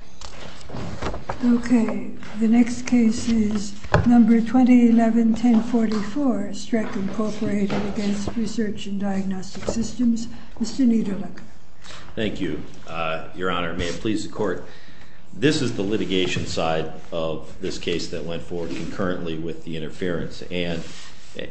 SYSTEMS, MR. KNIEDERLEKER. Thank you, Your Honor, and may it please the Court, this is the litigation side of this case that went forward concurrently with the interference, and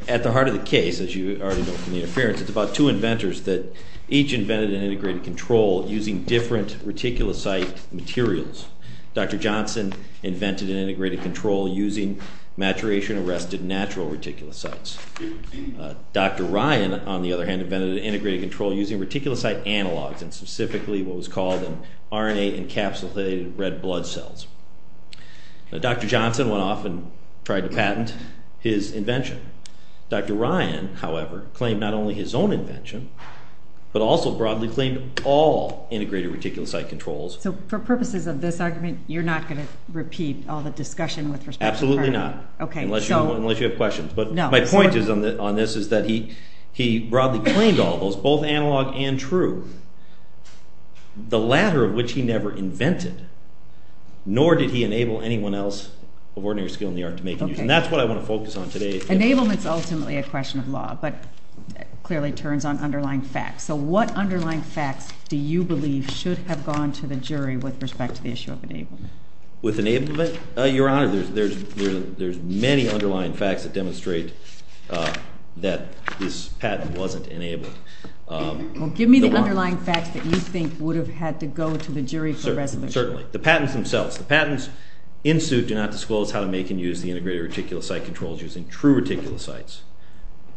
at the heart of the case, as you already know from the interference, it's about two inventors that each invented an integrated control using different reticulocyte materials. Dr. Johnson invented an integrated control using maturation-arrested natural reticulocytes. Dr. Ryan, on the other hand, invented an integrated control using reticulocyte analogs and specifically what was called RNA-encapsulated red blood cells. Dr. Johnson went off and tried to patent his invention. Dr. Ryan, however, claimed not only his own invention, but also broadly claimed all integrated reticulocyte controls. So for purposes of this argument, you're not going to repeat all the discussion with respect to Dr. Ryan? Absolutely not, unless you have questions, but my point on this is that he broadly claimed all those, both analog and true, the latter of which he never invented, nor did he enable anyone else of ordinary skill in the art to make a use, and that's what I want to focus on today. Enablement's ultimately a question of law, but clearly turns on underlying facts, so what underlying facts do you believe should have gone to the jury with respect to the issue of enablement? With enablement? Your Honor, there's many underlying facts that demonstrate that this patent wasn't enabled. Give me the underlying facts that you think would have had to go to the jury for resolution. Certainly. The patents themselves. The patents in suit do not disclose how to make and use the integrated reticulocyte controls using true reticulocytes.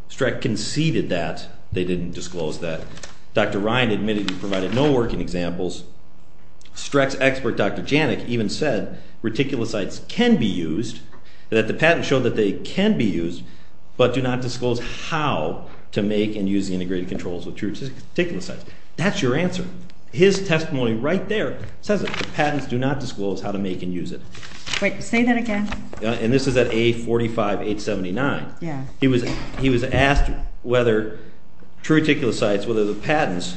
Streck conceded that, they didn't disclose that. Dr. Ryan admitted he provided no working examples. Streck's expert, Dr. Janik, even said reticulocytes can be used, that the patents show that they can be used, but do not disclose how to make and use the integrated controls with true reticulocytes. That's your answer. His testimony right there says it. The patents do not disclose how to make and use it. Wait, say that again. This is at A45879. He was asked whether true reticulocytes, whether the patents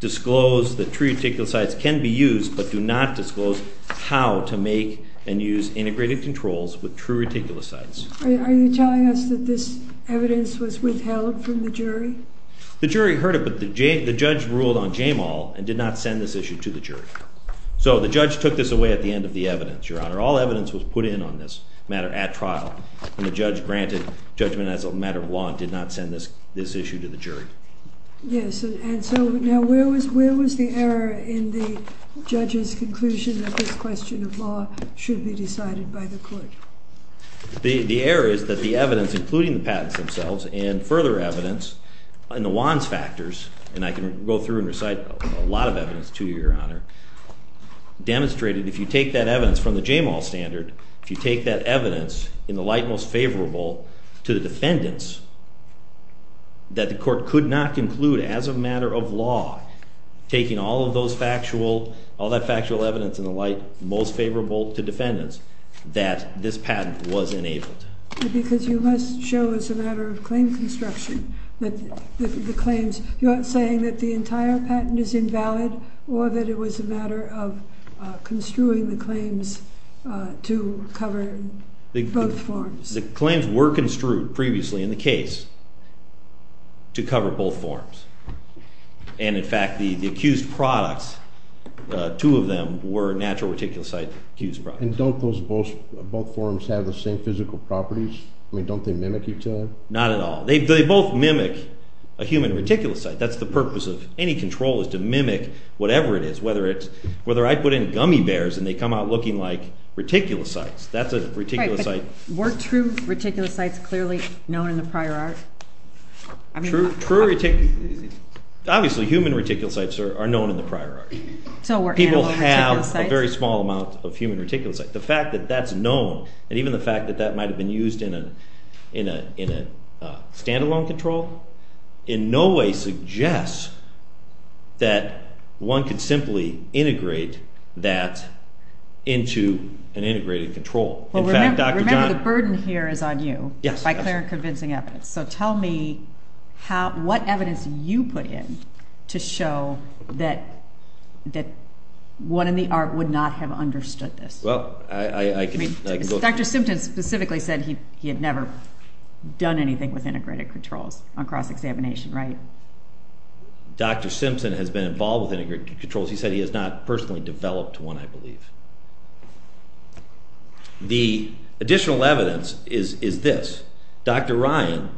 disclose that true reticulocytes can be used, but do not disclose how to make and use integrated controls with true reticulocytes. Are you telling us that this evidence was withheld from the jury? The jury heard it, but the judge ruled on JAMAL and did not send this issue to the jury. So the judge took this away at the end of the evidence, Your Honor. All evidence was put in on this matter at trial, and the judge granted judgment as a matter of law and did not send this issue to the jury. Yes, and so now where was the error in the judge's conclusion that this question of law should be decided by the court? The error is that the evidence, including the patents themselves, and further evidence in the Wands Factors, and I can go through and recite a lot of evidence to you, Your Honor, the JAMAL standard, if you take that evidence in the light most favorable to the defendants, that the court could not conclude as a matter of law, taking all of those factual, all that factual evidence in the light most favorable to defendants, that this patent was enabled. Because you must show as a matter of claim construction that the claims, you aren't saying that the entire patent is invalid or that it was a matter of construing the claims to cover both forms. The claims were construed previously in the case to cover both forms, and in fact the accused products, two of them were natural reticulocyte accused products. And don't those both forms have the same physical properties? I mean don't they mimic each other? Not at all. They both mimic a human reticulocyte. That's the purpose of any control is to mimic whatever it is, whether I put in gummy bears and they come out looking like reticulocytes. That's a reticulocyte. Right, but were true reticulocytes clearly known in the prior art? True reticulocytes, obviously human reticulocytes are known in the prior art. So were animal reticulocytes. People have a very small amount of human reticulocytes. The fact that that's known, and even the fact that that might have been used in a stand-alone control, in no way suggests that one could simply integrate that in a control that would into an integrated control. Remember the burden here is on you, by clear and convincing evidence. So tell me what evidence you put in to show that one in the art would not have understood this. Dr. Simpson specifically said he had never done anything with integrated controls on cross-examination, right? Dr. Simpson has been involved with integrated controls. He has not personally developed one, I believe. The additional evidence is this. Dr. Ryan,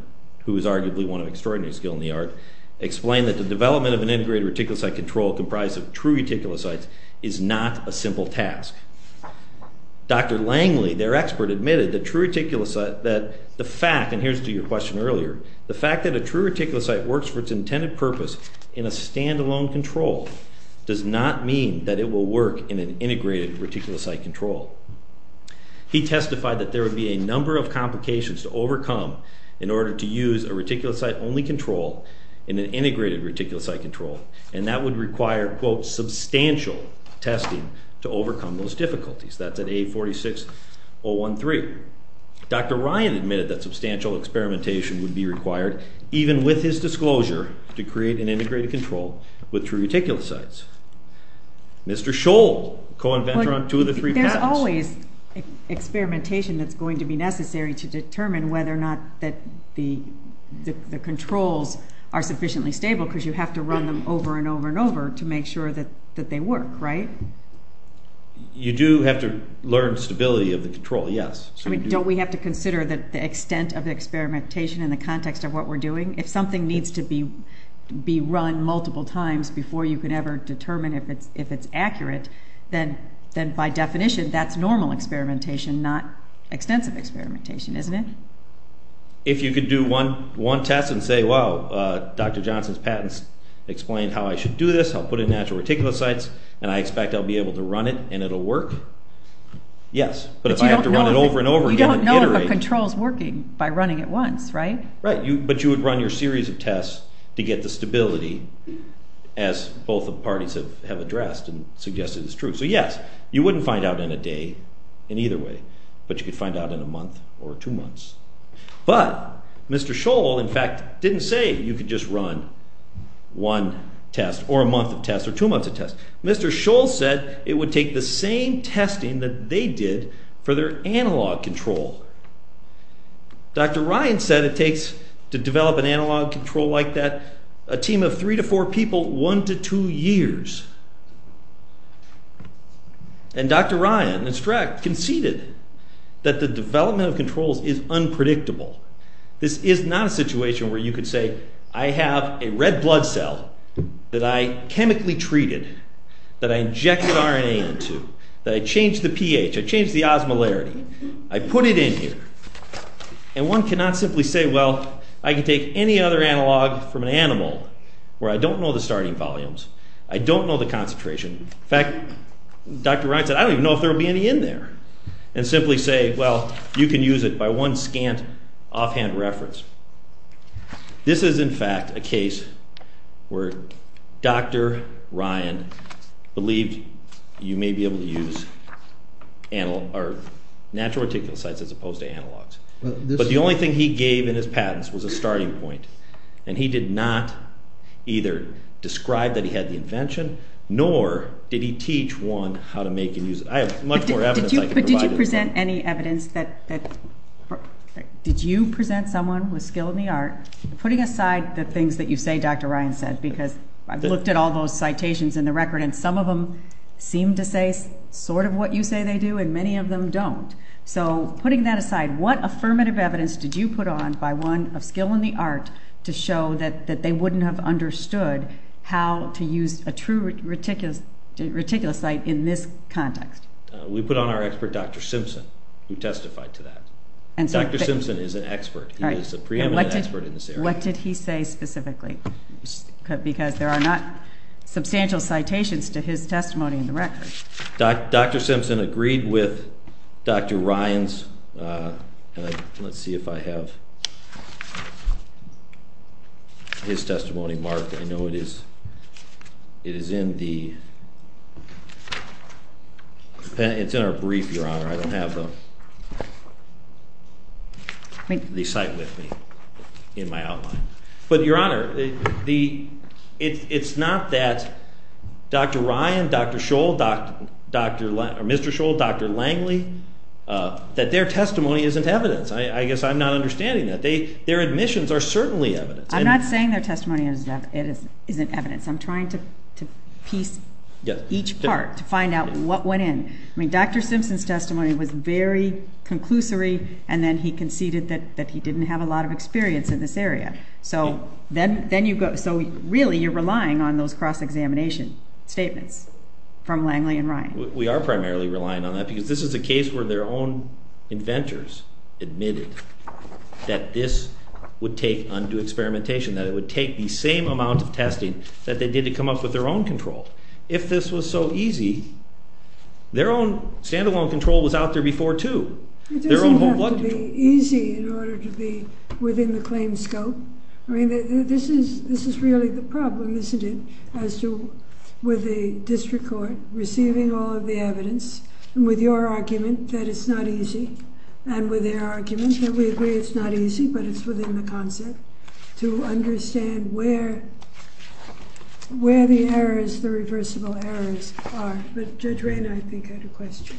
who is arguably one of extraordinary skill in the art, explained that the development of an integrated reticulocyte control comprised of true reticulocytes is not a simple task. Dr. Langley, their expert, admitted that true reticulocyte, that the fact, and here's to your question earlier, the fact that a true reticulocyte works for its intended purpose in a stand-alone control does not mean that it will work in an integrated reticulocyte control. He testified that there would be a number of complications to overcome in order to use a reticulocyte-only control in an integrated reticulocyte control, and that would require quote, substantial testing to overcome those difficulties. That's at 846.013. Dr. Ryan admitted that substantial experimentation would be required, even with his disclosure, to create an integrated control with true reticulocytes. Mr. Scholl, co-inventor on two of the three patents. There's always experimentation that's going to be necessary to determine whether or not that the controls are sufficiently stable, because you have to run them over and over and over to make sure that they work, right? You do have to learn stability of the control, yes. I mean, don't we have to consider that the extent of experimentation in the context of what we're doing? If something needs to be run multiple times before you can ever determine if it's accurate, then by definition, that's normal experimentation, not extensive experimentation, isn't it? If you could do one test and say, wow, Dr. Johnson's patents explain how I should do this, I'll put in natural reticulocytes, and I expect I'll be able to run it and it'll work, yes. But if I have to run it over and over again and iterate... But you don't know if a control's working by running it once, right? Right, but you would run your series of tests to get the stability, as both the parties have addressed and suggested is true. So yes, you wouldn't find out in a day in either way, but you could find out in a month or two months. But Mr. Scholl, in fact, didn't say you could just run one test or a month of tests or two months of tests. Mr. Scholl said it would take the same testing that they did for their to develop an analog control like that, a team of three to four people, one to two years. And Dr. Ryan and Strack conceded that the development of controls is unpredictable. This is not a situation where you could say, I have a red blood cell that I chemically treated, that I injected RNA into, that I changed the pH, I changed the osmolarity, I put it in here. And one cannot simply say, well, I can take any other analog from an animal where I don't know the starting volumes, I don't know the concentration. In fact, Dr. Ryan said, I don't even know if there will be any in there. And simply say, well, you can use it by one scant offhand reference. This is, in fact, a case where Dr. Ryan believed you may be able to use natural reticulocytes as opposed to analogs. But the only thing he gave in his patents was a starting point. And he did not either describe that he had the invention, nor did he teach one how to make and use it. I have much more evidence I can provide. But did you present any evidence that, did you present someone with skill in the art, putting aside the things that you say Dr. Ryan said, because I've looked at all those citations in the record, and some of them seem to say sort of what you say they do, and many of them don't. So, putting that aside, what affirmative evidence did you put on by one of skill in the art to show that they wouldn't have understood how to use a true reticulocyte in this context? We put on our expert, Dr. Simpson, who testified to that. Dr. Simpson is an expert, he is a preeminent expert in this area. What did he say specifically? Because there are not many citations to his testimony in the record. Dr. Simpson agreed with Dr. Ryan's, let's see if I have his testimony marked, I know it is in the, it's in our brief, Your Honor, I don't have the recite with me in my outline. But Your Honor, it's not that Dr. Ryan, Dr. Scholl, Mr. Scholl, Dr. Langley, that their testimony isn't evidence. I guess I'm not understanding that. Their admissions are certainly evidence. I'm not saying their testimony isn't evidence. I'm trying to piece each part to find out what went in. I mean, Dr. Simpson's testimony was very conclusory, and then he conceded that he didn't have a lot of experience in this area. So, really, you're relying on those cross-examination statements from Langley and Ryan. We are primarily relying on that because this is a case where their own inventors admitted that this would take undue experimentation, that it would take the same amount of testing that they did to come up with their own control. If this was so easy, their own stand-alone control was out there before, too. It doesn't have to be easy in order to be within the claim scope. I mean, this is really the problem, isn't it, as to, with the district court receiving all of the evidence, and with your argument that it's not easy, and with their argument that we agree it's not easy, but it's within the concept, to understand where the errors, the reversible errors, are. But Judge Rayner, I think, had a question.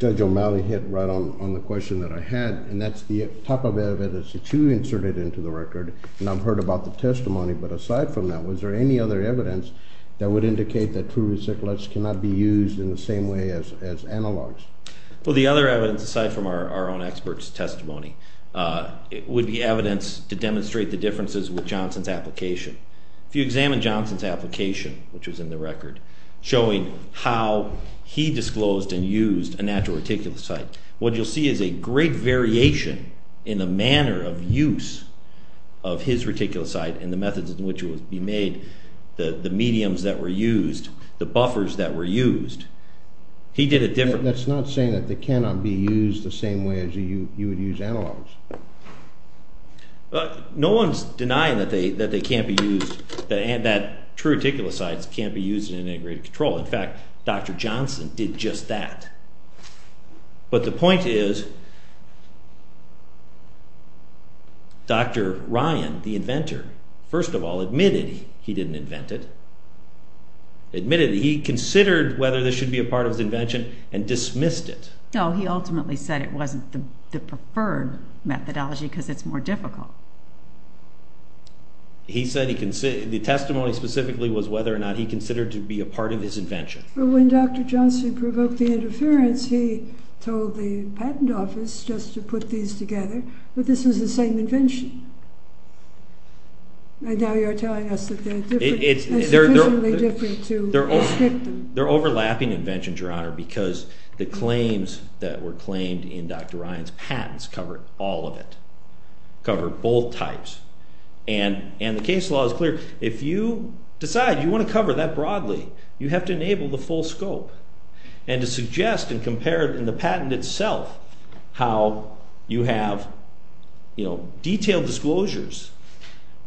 Judge O'Malley hit right on the question that I had, and that's the type of evidence that you inserted into the record, and I've heard about the testimony, but aside from that, was there any other evidence that would indicate that true reciclates cannot be used in the same way as analogs? Well, the other evidence, aside from our own experts' testimony, would be evidence to demonstrate the differences with Johnson's application. If you examine Johnson's application, which was in the record, showing how he disclosed and used a natural reticulocyte, what you'll see is a great variation in the manner of use of his reticulocyte, and the methods in which it would be made, the mediums that were used, the buffers that were used. He did it differently. But that's not saying that they cannot be used the same way as you would use analogs. No one's denying that they can't be used, that true reticulocytes can't be used in integrated control. In fact, Dr. Johnson did just that. But the point is, Dr. Ryan, the inventor, first of all admitted he didn't invent it, admitted he considered whether this should be a part of his invention and dismissed it. No, he ultimately said it wasn't the preferred methodology because it's more difficult. He said the testimony specifically was whether or not he considered to be a part of his invention. But when Dr. Johnson provoked the interference, he told the patent office just to put these together, that this was the same invention. And now you're telling us that they're sufficiently different to his victim. They're overlapping inventions, Your Honor, because the claims that were claimed in Dr. Ryan's patents cover all of it, cover both types. And the case law is clear. If you decide you want to cover that broadly, you have to enable the full scope and to suggest and compare in the patent itself how you have detailed disclosures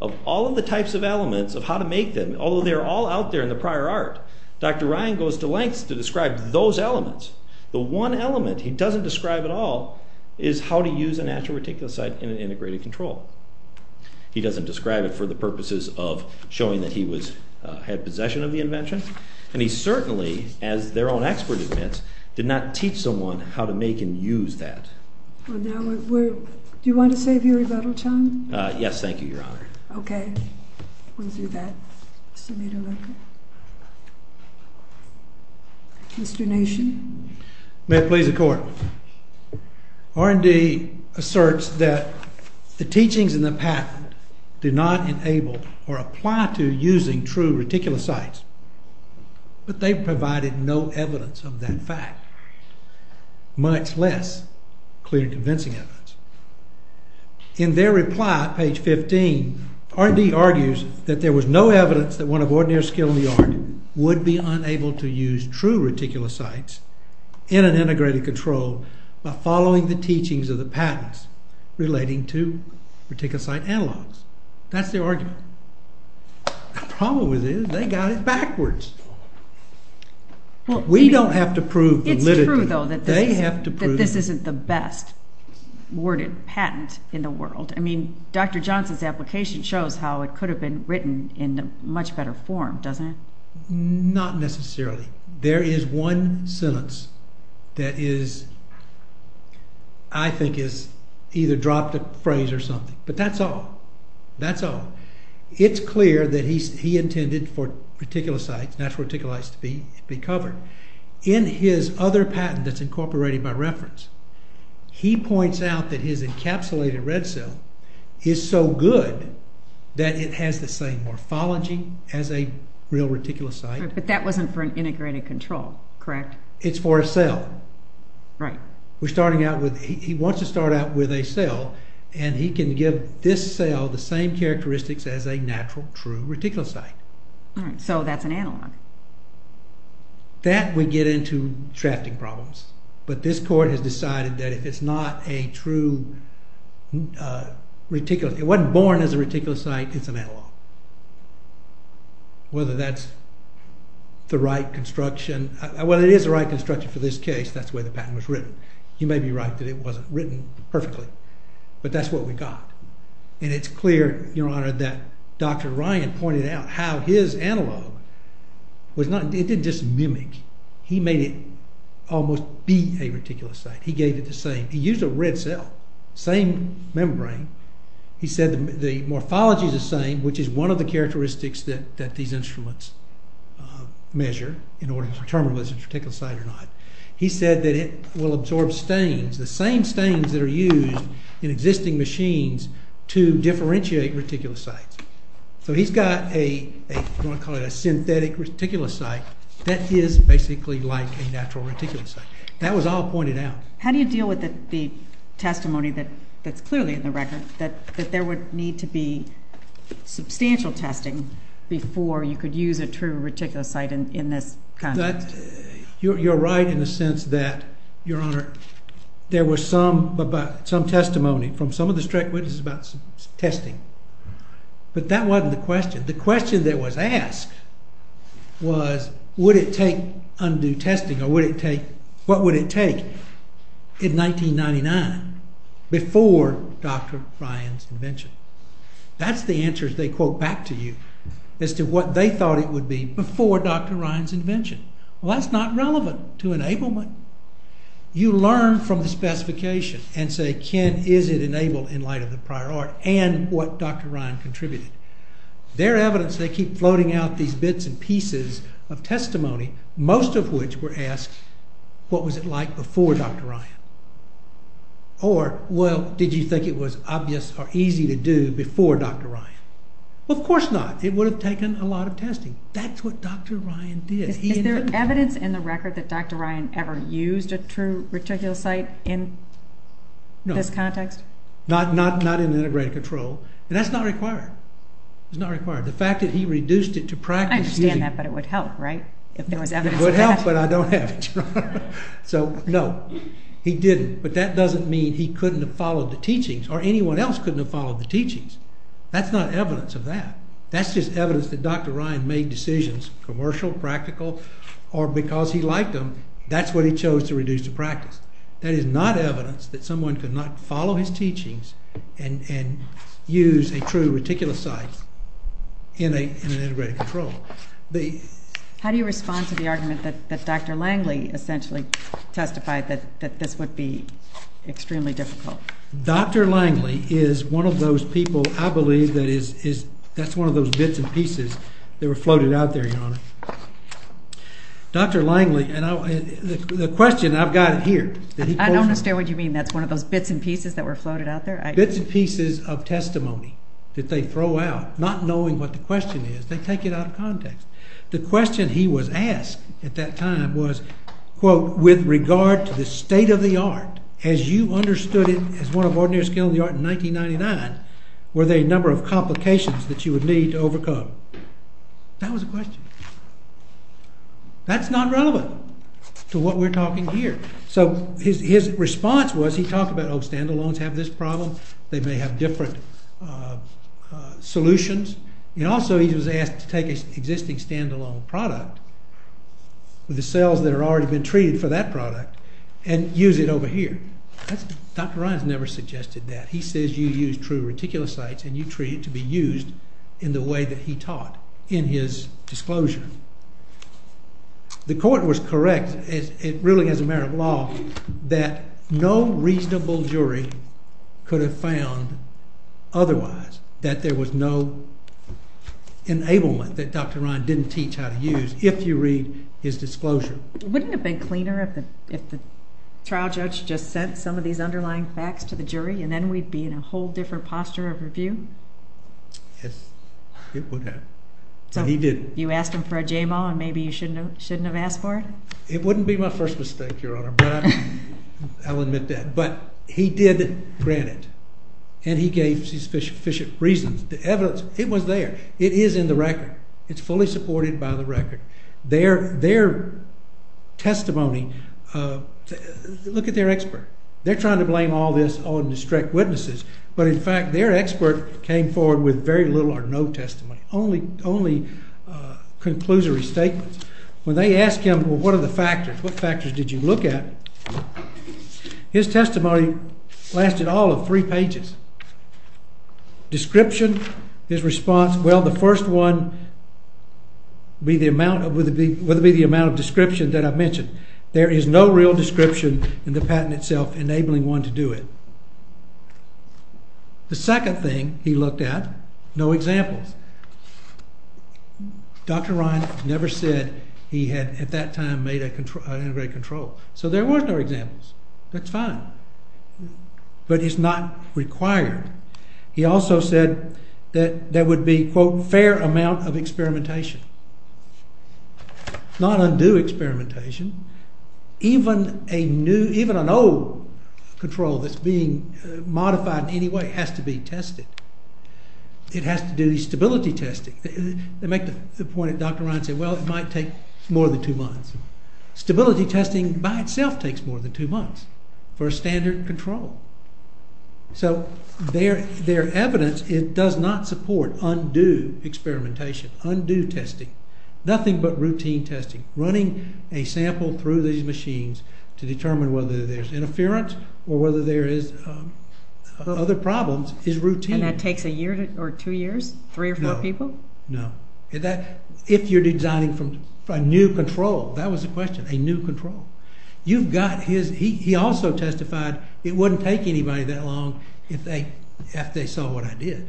of all of the types of elements, of how to make them, although they're all out there in the prior art. Dr. Ryan goes to lengths to describe those elements. The one element he doesn't describe at all is how to use a natural reticulocyte in an integrated control. He doesn't describe it for the purposes of showing that he had possession of the invention. And he certainly, as their own expert admits, did not teach someone how to make and use that. Do you want to save your rebuttal time? Yes, thank you, Your Honor. Okay, we'll do that. Mr. Nishin. May it please the Court. R&D asserts that the teachings in the patent do not enable or apply to using true reticulocytes, but they provided no evidence of that fact, much less clear convincing evidence. In their reply, page 15, R&D argues that there was no evidence that one of ordinary skill in the art would be unable to use true reticulocytes in an integrated control by following the teachings of the patents relating to reticulocyte analogs. That's their argument. The problem with it is they got it backwards. We don't have to prove validity. It's true, though, that this isn't the best worded patent in the world. I mean, Dr. Johnson's application shows how it could have been written in a much better form, doesn't it? Not necessarily. There is one sentence that is, I think, is either dropped a phrase or something, but that's all. That's all. It's clear that he intended for reticulocytes, natural reticulocytes, to be covered. In his other patent that's incorporated by reference, he points out that his encapsulated red cell is so good that it has the same morphology as a real reticulocyte. But that wasn't for an integrated control, correct? It's for a cell. Right. We're starting out with, he wants to start out with a cell, and he can give this cell the same characteristics as a natural true reticulocyte. All right, so that's an analog. That would get into drafting problems, but this court has decided that if it's not a true reticulocyte, it wasn't born as a reticulocyte, it's an analog. Whether that's the right construction, whether it is the right construction for this case, that's the way the patent was written. You may be right that it wasn't written perfectly, but that's what we got. And it's clear, Your Honor, that Dr. Ryan pointed out how his analog was not, it didn't just mimic, he made it almost be a reticulocyte. He gave it the same, he used a red cell, same membrane. He said the morphology is the same, which is one of the characteristics that these instruments measure in order to determine whether it's a reticulocyte or not. He said that it will absorb stains, the same stains that are used in existing machines to differentiate reticulocytes. So he's got a, you want to call it a synthetic reticulocyte that is basically like a natural reticulocyte. That was all pointed out. How do you deal with the testimony that's clearly in the record that there would need to be substantial testing before you could use a true reticulocyte in this context? You're right in the sense that, Your Honor, there was some testimony from some of the witnesses about some testing, but that wasn't the question. The question that was asked was would it take undue testing or would it take, what would it take in 1999 before Dr. Ryan's invention? That's the answer as they quote back to you as to what they thought it would be before Dr. Ryan's invention. Well, that's not relevant to enablement. You learn from the specification and say, Ken, is it enabled in light of the prior art and what Dr. Ryan contributed? Their evidence, they keep floating out these bits and pieces of testimony, most of which were asked, what was it like before Dr. Ryan? Or, well, did you think it was obvious or easy to do before Dr. Ryan? Well, of course not. It would have taken a lot of testing. That's what Dr. Ryan did. Is there evidence in the record that Dr. Ryan ever used a true reticulocyte in this context? No, not in integrated control, and that's not required. It's not required. The fact that he reduced it to practice... I understand that, but it would help, right? If there was evidence of that. It would help, but I don't have it. So, no, he didn't, but that doesn't mean he couldn't have followed the teachings or anyone else couldn't have followed the teachings. That's not evidence of that. That's just evidence that Dr. Ryan made decisions, commercial, practical, or because he liked them, that's what he chose to reduce to practice. That is not evidence that someone could not follow his teachings and use a true reticulocyte in an integrated control. How do you respond to the argument that Dr. Langley essentially testified that this would be extremely difficult? Dr. Langley is one of those people I believe that is... That's one of those bits and pieces that were floated out there, Your Honor. Dr. Langley, and the question I've got here... I don't understand what you mean. That's one of those bits and pieces that were floated out there? Bits and pieces of testimony that they throw out, not knowing what the question is. They take it out of context. The question he was asked at that time was, quote, with regard to the state of the art, as you understood it as one of ordinary skill in the art in 1999, were there a number of That's not relevant to what we're talking here. So his response was, he talked about, oh, standalones have this problem, they may have different solutions, and also he was asked to take an existing standalone product with the cells that have already been treated for that product and use it over here. That's... Dr. Ryan's never suggested that. He says you use true reticulocytes and you treat it to be used in the way that he taught in his disclosure. The court was correct, it really is a matter of law, that no reasonable jury could have found otherwise, that there was no enablement that Dr. Ryan didn't teach how to use if you read his disclosure. Wouldn't it have been cleaner if the trial judge just sent some of these underlying facts to the jury and then we'd be in a whole different posture of review? Yes, it would have, but he didn't. You asked him for a JMAW and maybe you shouldn't have asked for it? It wouldn't be my first mistake, Your Honor, but I'll admit that. But he did grant it and he gave sufficient reasons. The evidence, it was there, it is in the record, it's fully supported by the record. Their testimony, look at their expert, they're trying to blame all this on distract witnesses, but in fact their expert came forward with very little or no testimony, only conclusory statements. When they ask him, well, what are the factors, what factors did you look at? His testimony lasted all of three pages. Description, his response, well, the first one would be the amount of description that I mentioned. There is no real description in the patent itself enabling one to do it. The second thing he looked at, no examples. Dr. Ryan never said he had at that time made a control, an integrated control, so there were no examples. That's fine, but it's not required. He also said that there would be, quote, fair amount of experimentation. Not undue experimentation, even a new, even an old control that's being modified in any way has to be tested. It has to do the stability testing. They make the point that Dr. Ryan said, well, it might take more than two months. Stability testing by itself takes more than two months for a standard control. So their evidence, it does not support undue experimentation, undue testing. Nothing but routine testing. Running a sample through these machines to determine whether there's interference or whether there is other problems is routine. And that takes a year or two years? Three or four people? No. If you're designing from a new control, that was the question, a new control. You've got his, he also testified it wouldn't take anybody that long if they saw what I did.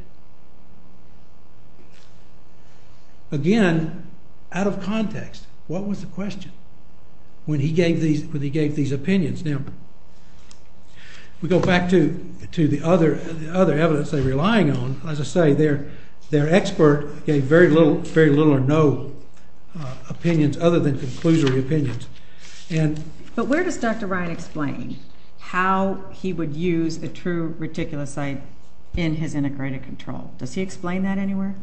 Again, out of context, what was the question when he gave these opinions? Now, we go back to the other evidence they're relying on. As I say, their expert gave very little or no opinions other than conclusory opinions. But where does Dr. Ryan explain how he would use the true reticulocyte in his integrated control? Does he explain that anywhere?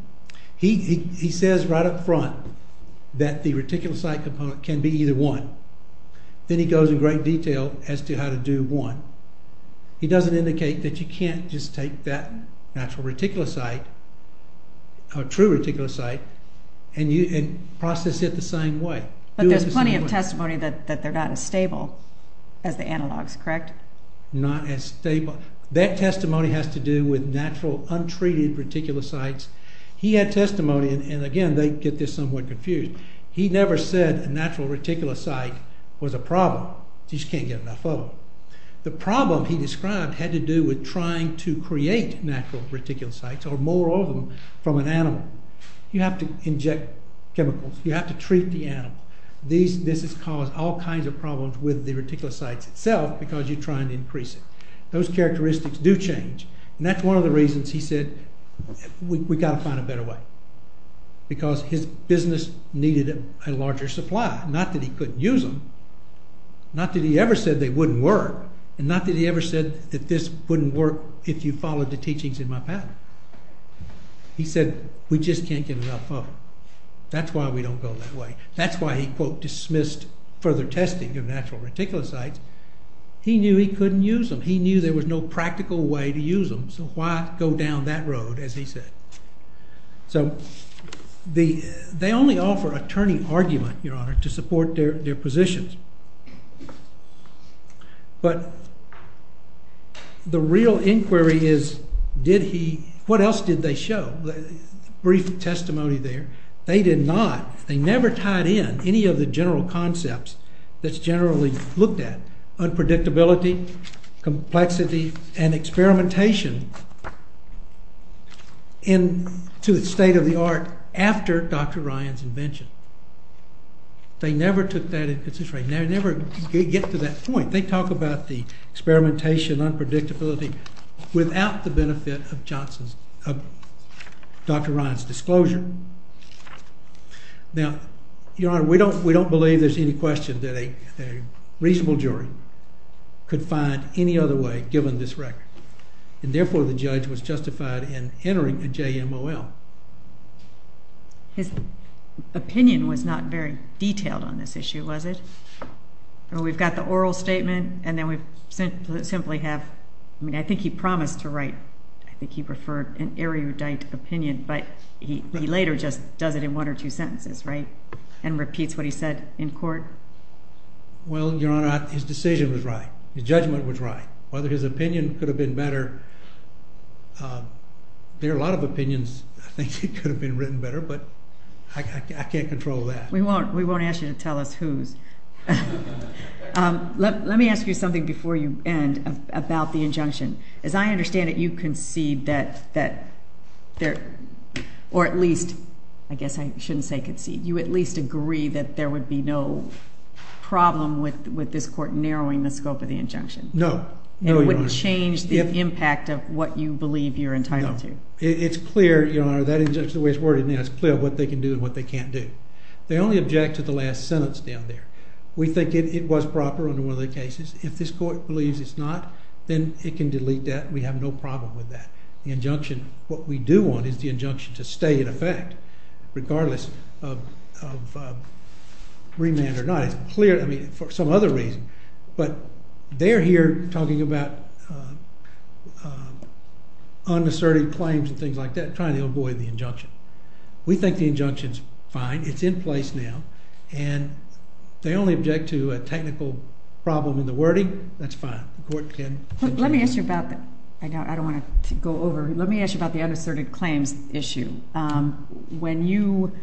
He says right up front that the reticulocyte component can be either one. Then he goes in great detail as to how to do one. He doesn't indicate that you can't just take that natural reticulocyte or true reticulocyte and process it the same way. But there's plenty of testimony that they're not as stable as the analogs, correct? Not as stable. That testimony has to do with natural, untreated reticulocytes. He had testimony, and again, they get this somewhat confused. He never said a natural reticulocyte was a problem. You just can't get enough of them. The problem he described had to do with trying to create natural reticulocytes or more of them from an animal. You have to inject chemicals. You have to treat the animal. This has caused all kinds of problems with the reticulocytes itself because you're trying to increase it. Those characteristics do change, and that's one of the reasons he said we've got to find a better way because his business needed a larger supply. Not that he couldn't use them. Not that he ever said they wouldn't work, and not that he ever said that this wouldn't work if you followed the teachings in my pattern. He said we just can't get enough of them. That's why we don't go that way. That's why he, quote, dismissed further testing of natural reticulocytes. He knew he couldn't use them. He knew there was no practical way to use them, so why go down that road, as he said. So they only offer attorney argument, Your Honor, to support their positions. But the real inquiry is what else did they show? Brief testimony there. They did not. They never tied in any of the general concepts that's generally looked at. Unpredictability, complexity, and experimentation to the state of the art after Dr. Ryan's invention. They never took that into consideration. They never get to that point. They talk about the experimentation, unpredictability, without the benefit of Dr. Ryan's disclosure. Now, Your Honor, we don't believe there's any question that a reasonable jury could find any other way, given this record. And therefore, the judge was justified in entering a JMOL. His opinion was not very detailed on this issue, was it? We've got the oral statement, and then we simply have, I mean, I think he promised to write, I think he referred an erudite opinion, but he later just does it in one or two sentences, right? And repeats what he said in court? Well, Your Honor, his decision was right. His judgment was right. Whether his opinion could have been better, there are a lot of opinions I think could have been written better, but I can't control that. We won't ask you to tell us whose. Let me ask you something before you end about the injunction. As I understand it, you concede that there, or at least, I guess I shouldn't say concede, you at least agree that there would be no problem with this court narrowing the scope of the injunction. No. And it wouldn't change the impact of what you believe you're entitled to. It's clear, Your Honor, that injunction, the way it's worded now, it's clear what they can do and what they can't do. They only object to the last sentence down there. We think it was proper under one of the cases. If this court believes it's not, then it can delete that and we have no problem with that. The injunction, what we do want is the injunction to stay in effect, regardless of remand or not. It's clear, I mean, for some other reason, but they're here talking about unasserted claims and things like that, trying to avoid the injunction. We think the injunction's fine. It's in place now, and they only object to a technical problem in the wording. That's fine. The court can... Let me ask you about... I don't want to go over. Let me ask you about the unasserted claims issue. When you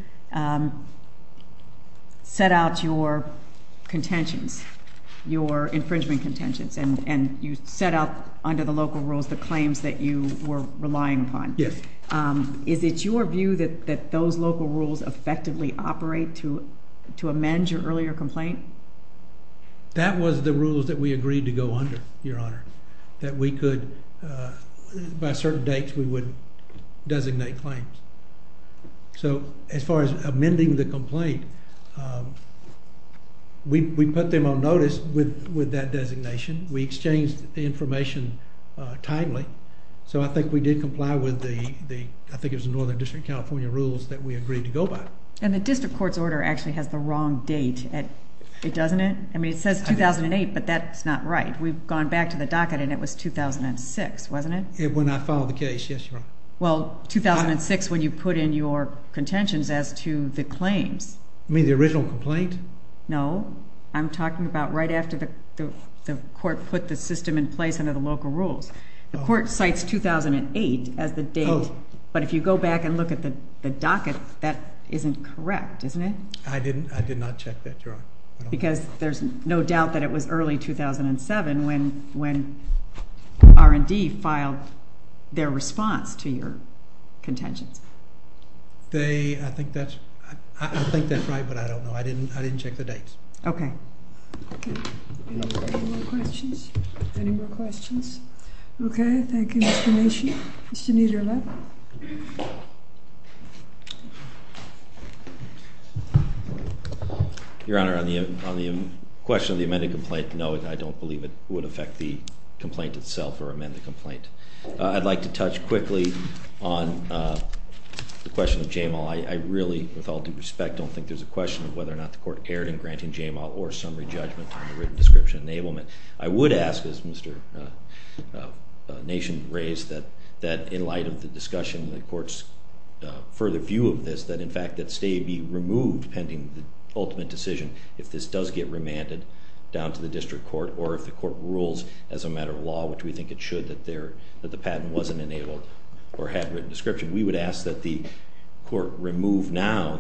set out your contentions, your infringement contentions, and you set out under the local rules the claims that you were relying upon. Yes. Is it your view that those local rules effectively operate to amend your earlier complaint? That was the rules that we agreed to go under, Your Honor, that we could... By certain dates, we would designate claims. So, as far as amending the complaint, we put them on notice with that designation. We exchanged the information timely, so I think we did comply with the... I think it was the Northern District of California rules that we agreed to go by. And the district court's order actually has the wrong date, doesn't it? I mean, it says 2008, but that's not right. We've gone back to the docket, and it was 2006, wasn't it? When I filed the case, yes, Your Honor. Well, 2006 when you put in your contentions as to the claims. You mean the original complaint? No. I'm talking about right after the court put the system in place under the local rules. The court cites 2008 as the date, but if you go back and look at the docket, that isn't correct, isn't it? I did not check that, Your Honor. Because there's no doubt that it was early 2007 when R&D filed their response to your contentions. I think that's right, but I don't know. I didn't check the date. Okay. Okay. Any more questions? Any more questions? Okay. Thank you, Mr. Nation. Mr. Niederle. Your Honor, on the question of the amended complaint, no, I don't believe it would affect the complaint itself or amend the complaint. I'd like to touch quickly on the question of JMAL. I really, with all due respect, don't think there's a question of whether or not the court erred in granting JMAL or summary judgment on the written description enablement. I would ask, as Mr. Nation raised, that in light of the discussion, the court's further view of this, that in fact that stay be removed pending the ultimate decision if this does get remanded down to the district court or if the court rules as a matter of law, which we think it should, that the patent wasn't enabled or had written description. We would ask that the court remove now,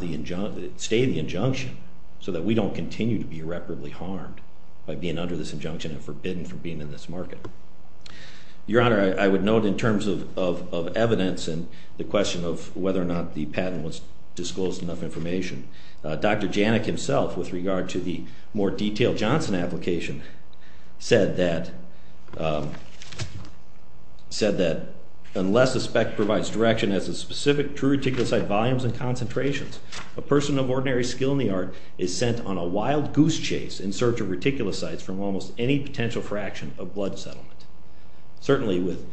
stay the injunction so that we don't continue to be irreparably harmed by being under this injunction and forbidden from being in this market. Your Honor, I would note in terms of evidence and the question of whether or not the patent was disclosed enough information, Dr. Janik himself with regard to the more detailed Johnson application said that unless the spec provides direction as to specific true reticulocyte volumes and concentrations, a person of ordinary skill in the art is sent on a wild goose chase in search of reticulocytes from almost any potential fraction of blood settled. Certainly with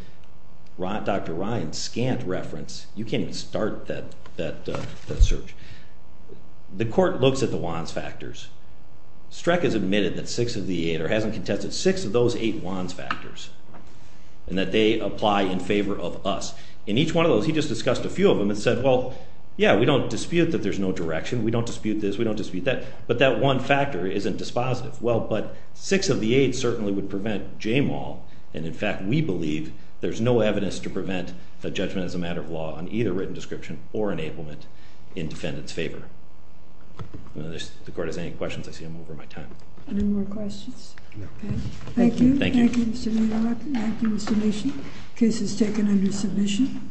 Dr. Ryan's scant reference, you can't even start that search. The court looks at the Wands factors. Streck has admitted that six of the eight or hasn't contested six of those eight Wands factors and that they apply in favor of us. In each one of those, he just discussed a few of them and said, well, yeah, we don't dispute that there's no direction. We don't dispute this. We don't dispute that. But that one factor isn't dispositive. Well, but six of the eight certainly would prevent JAMAL. And in fact, we believe there's no evidence to prevent the judgment as a matter of law on either written description or enablement in defendant's favor. If the court has any questions, I see I'm over my time. Any more questions? No. Thank you. Thank you. Thank you, Mr. Maynard. Thank you, Mr. Misha. The case is taken under submission.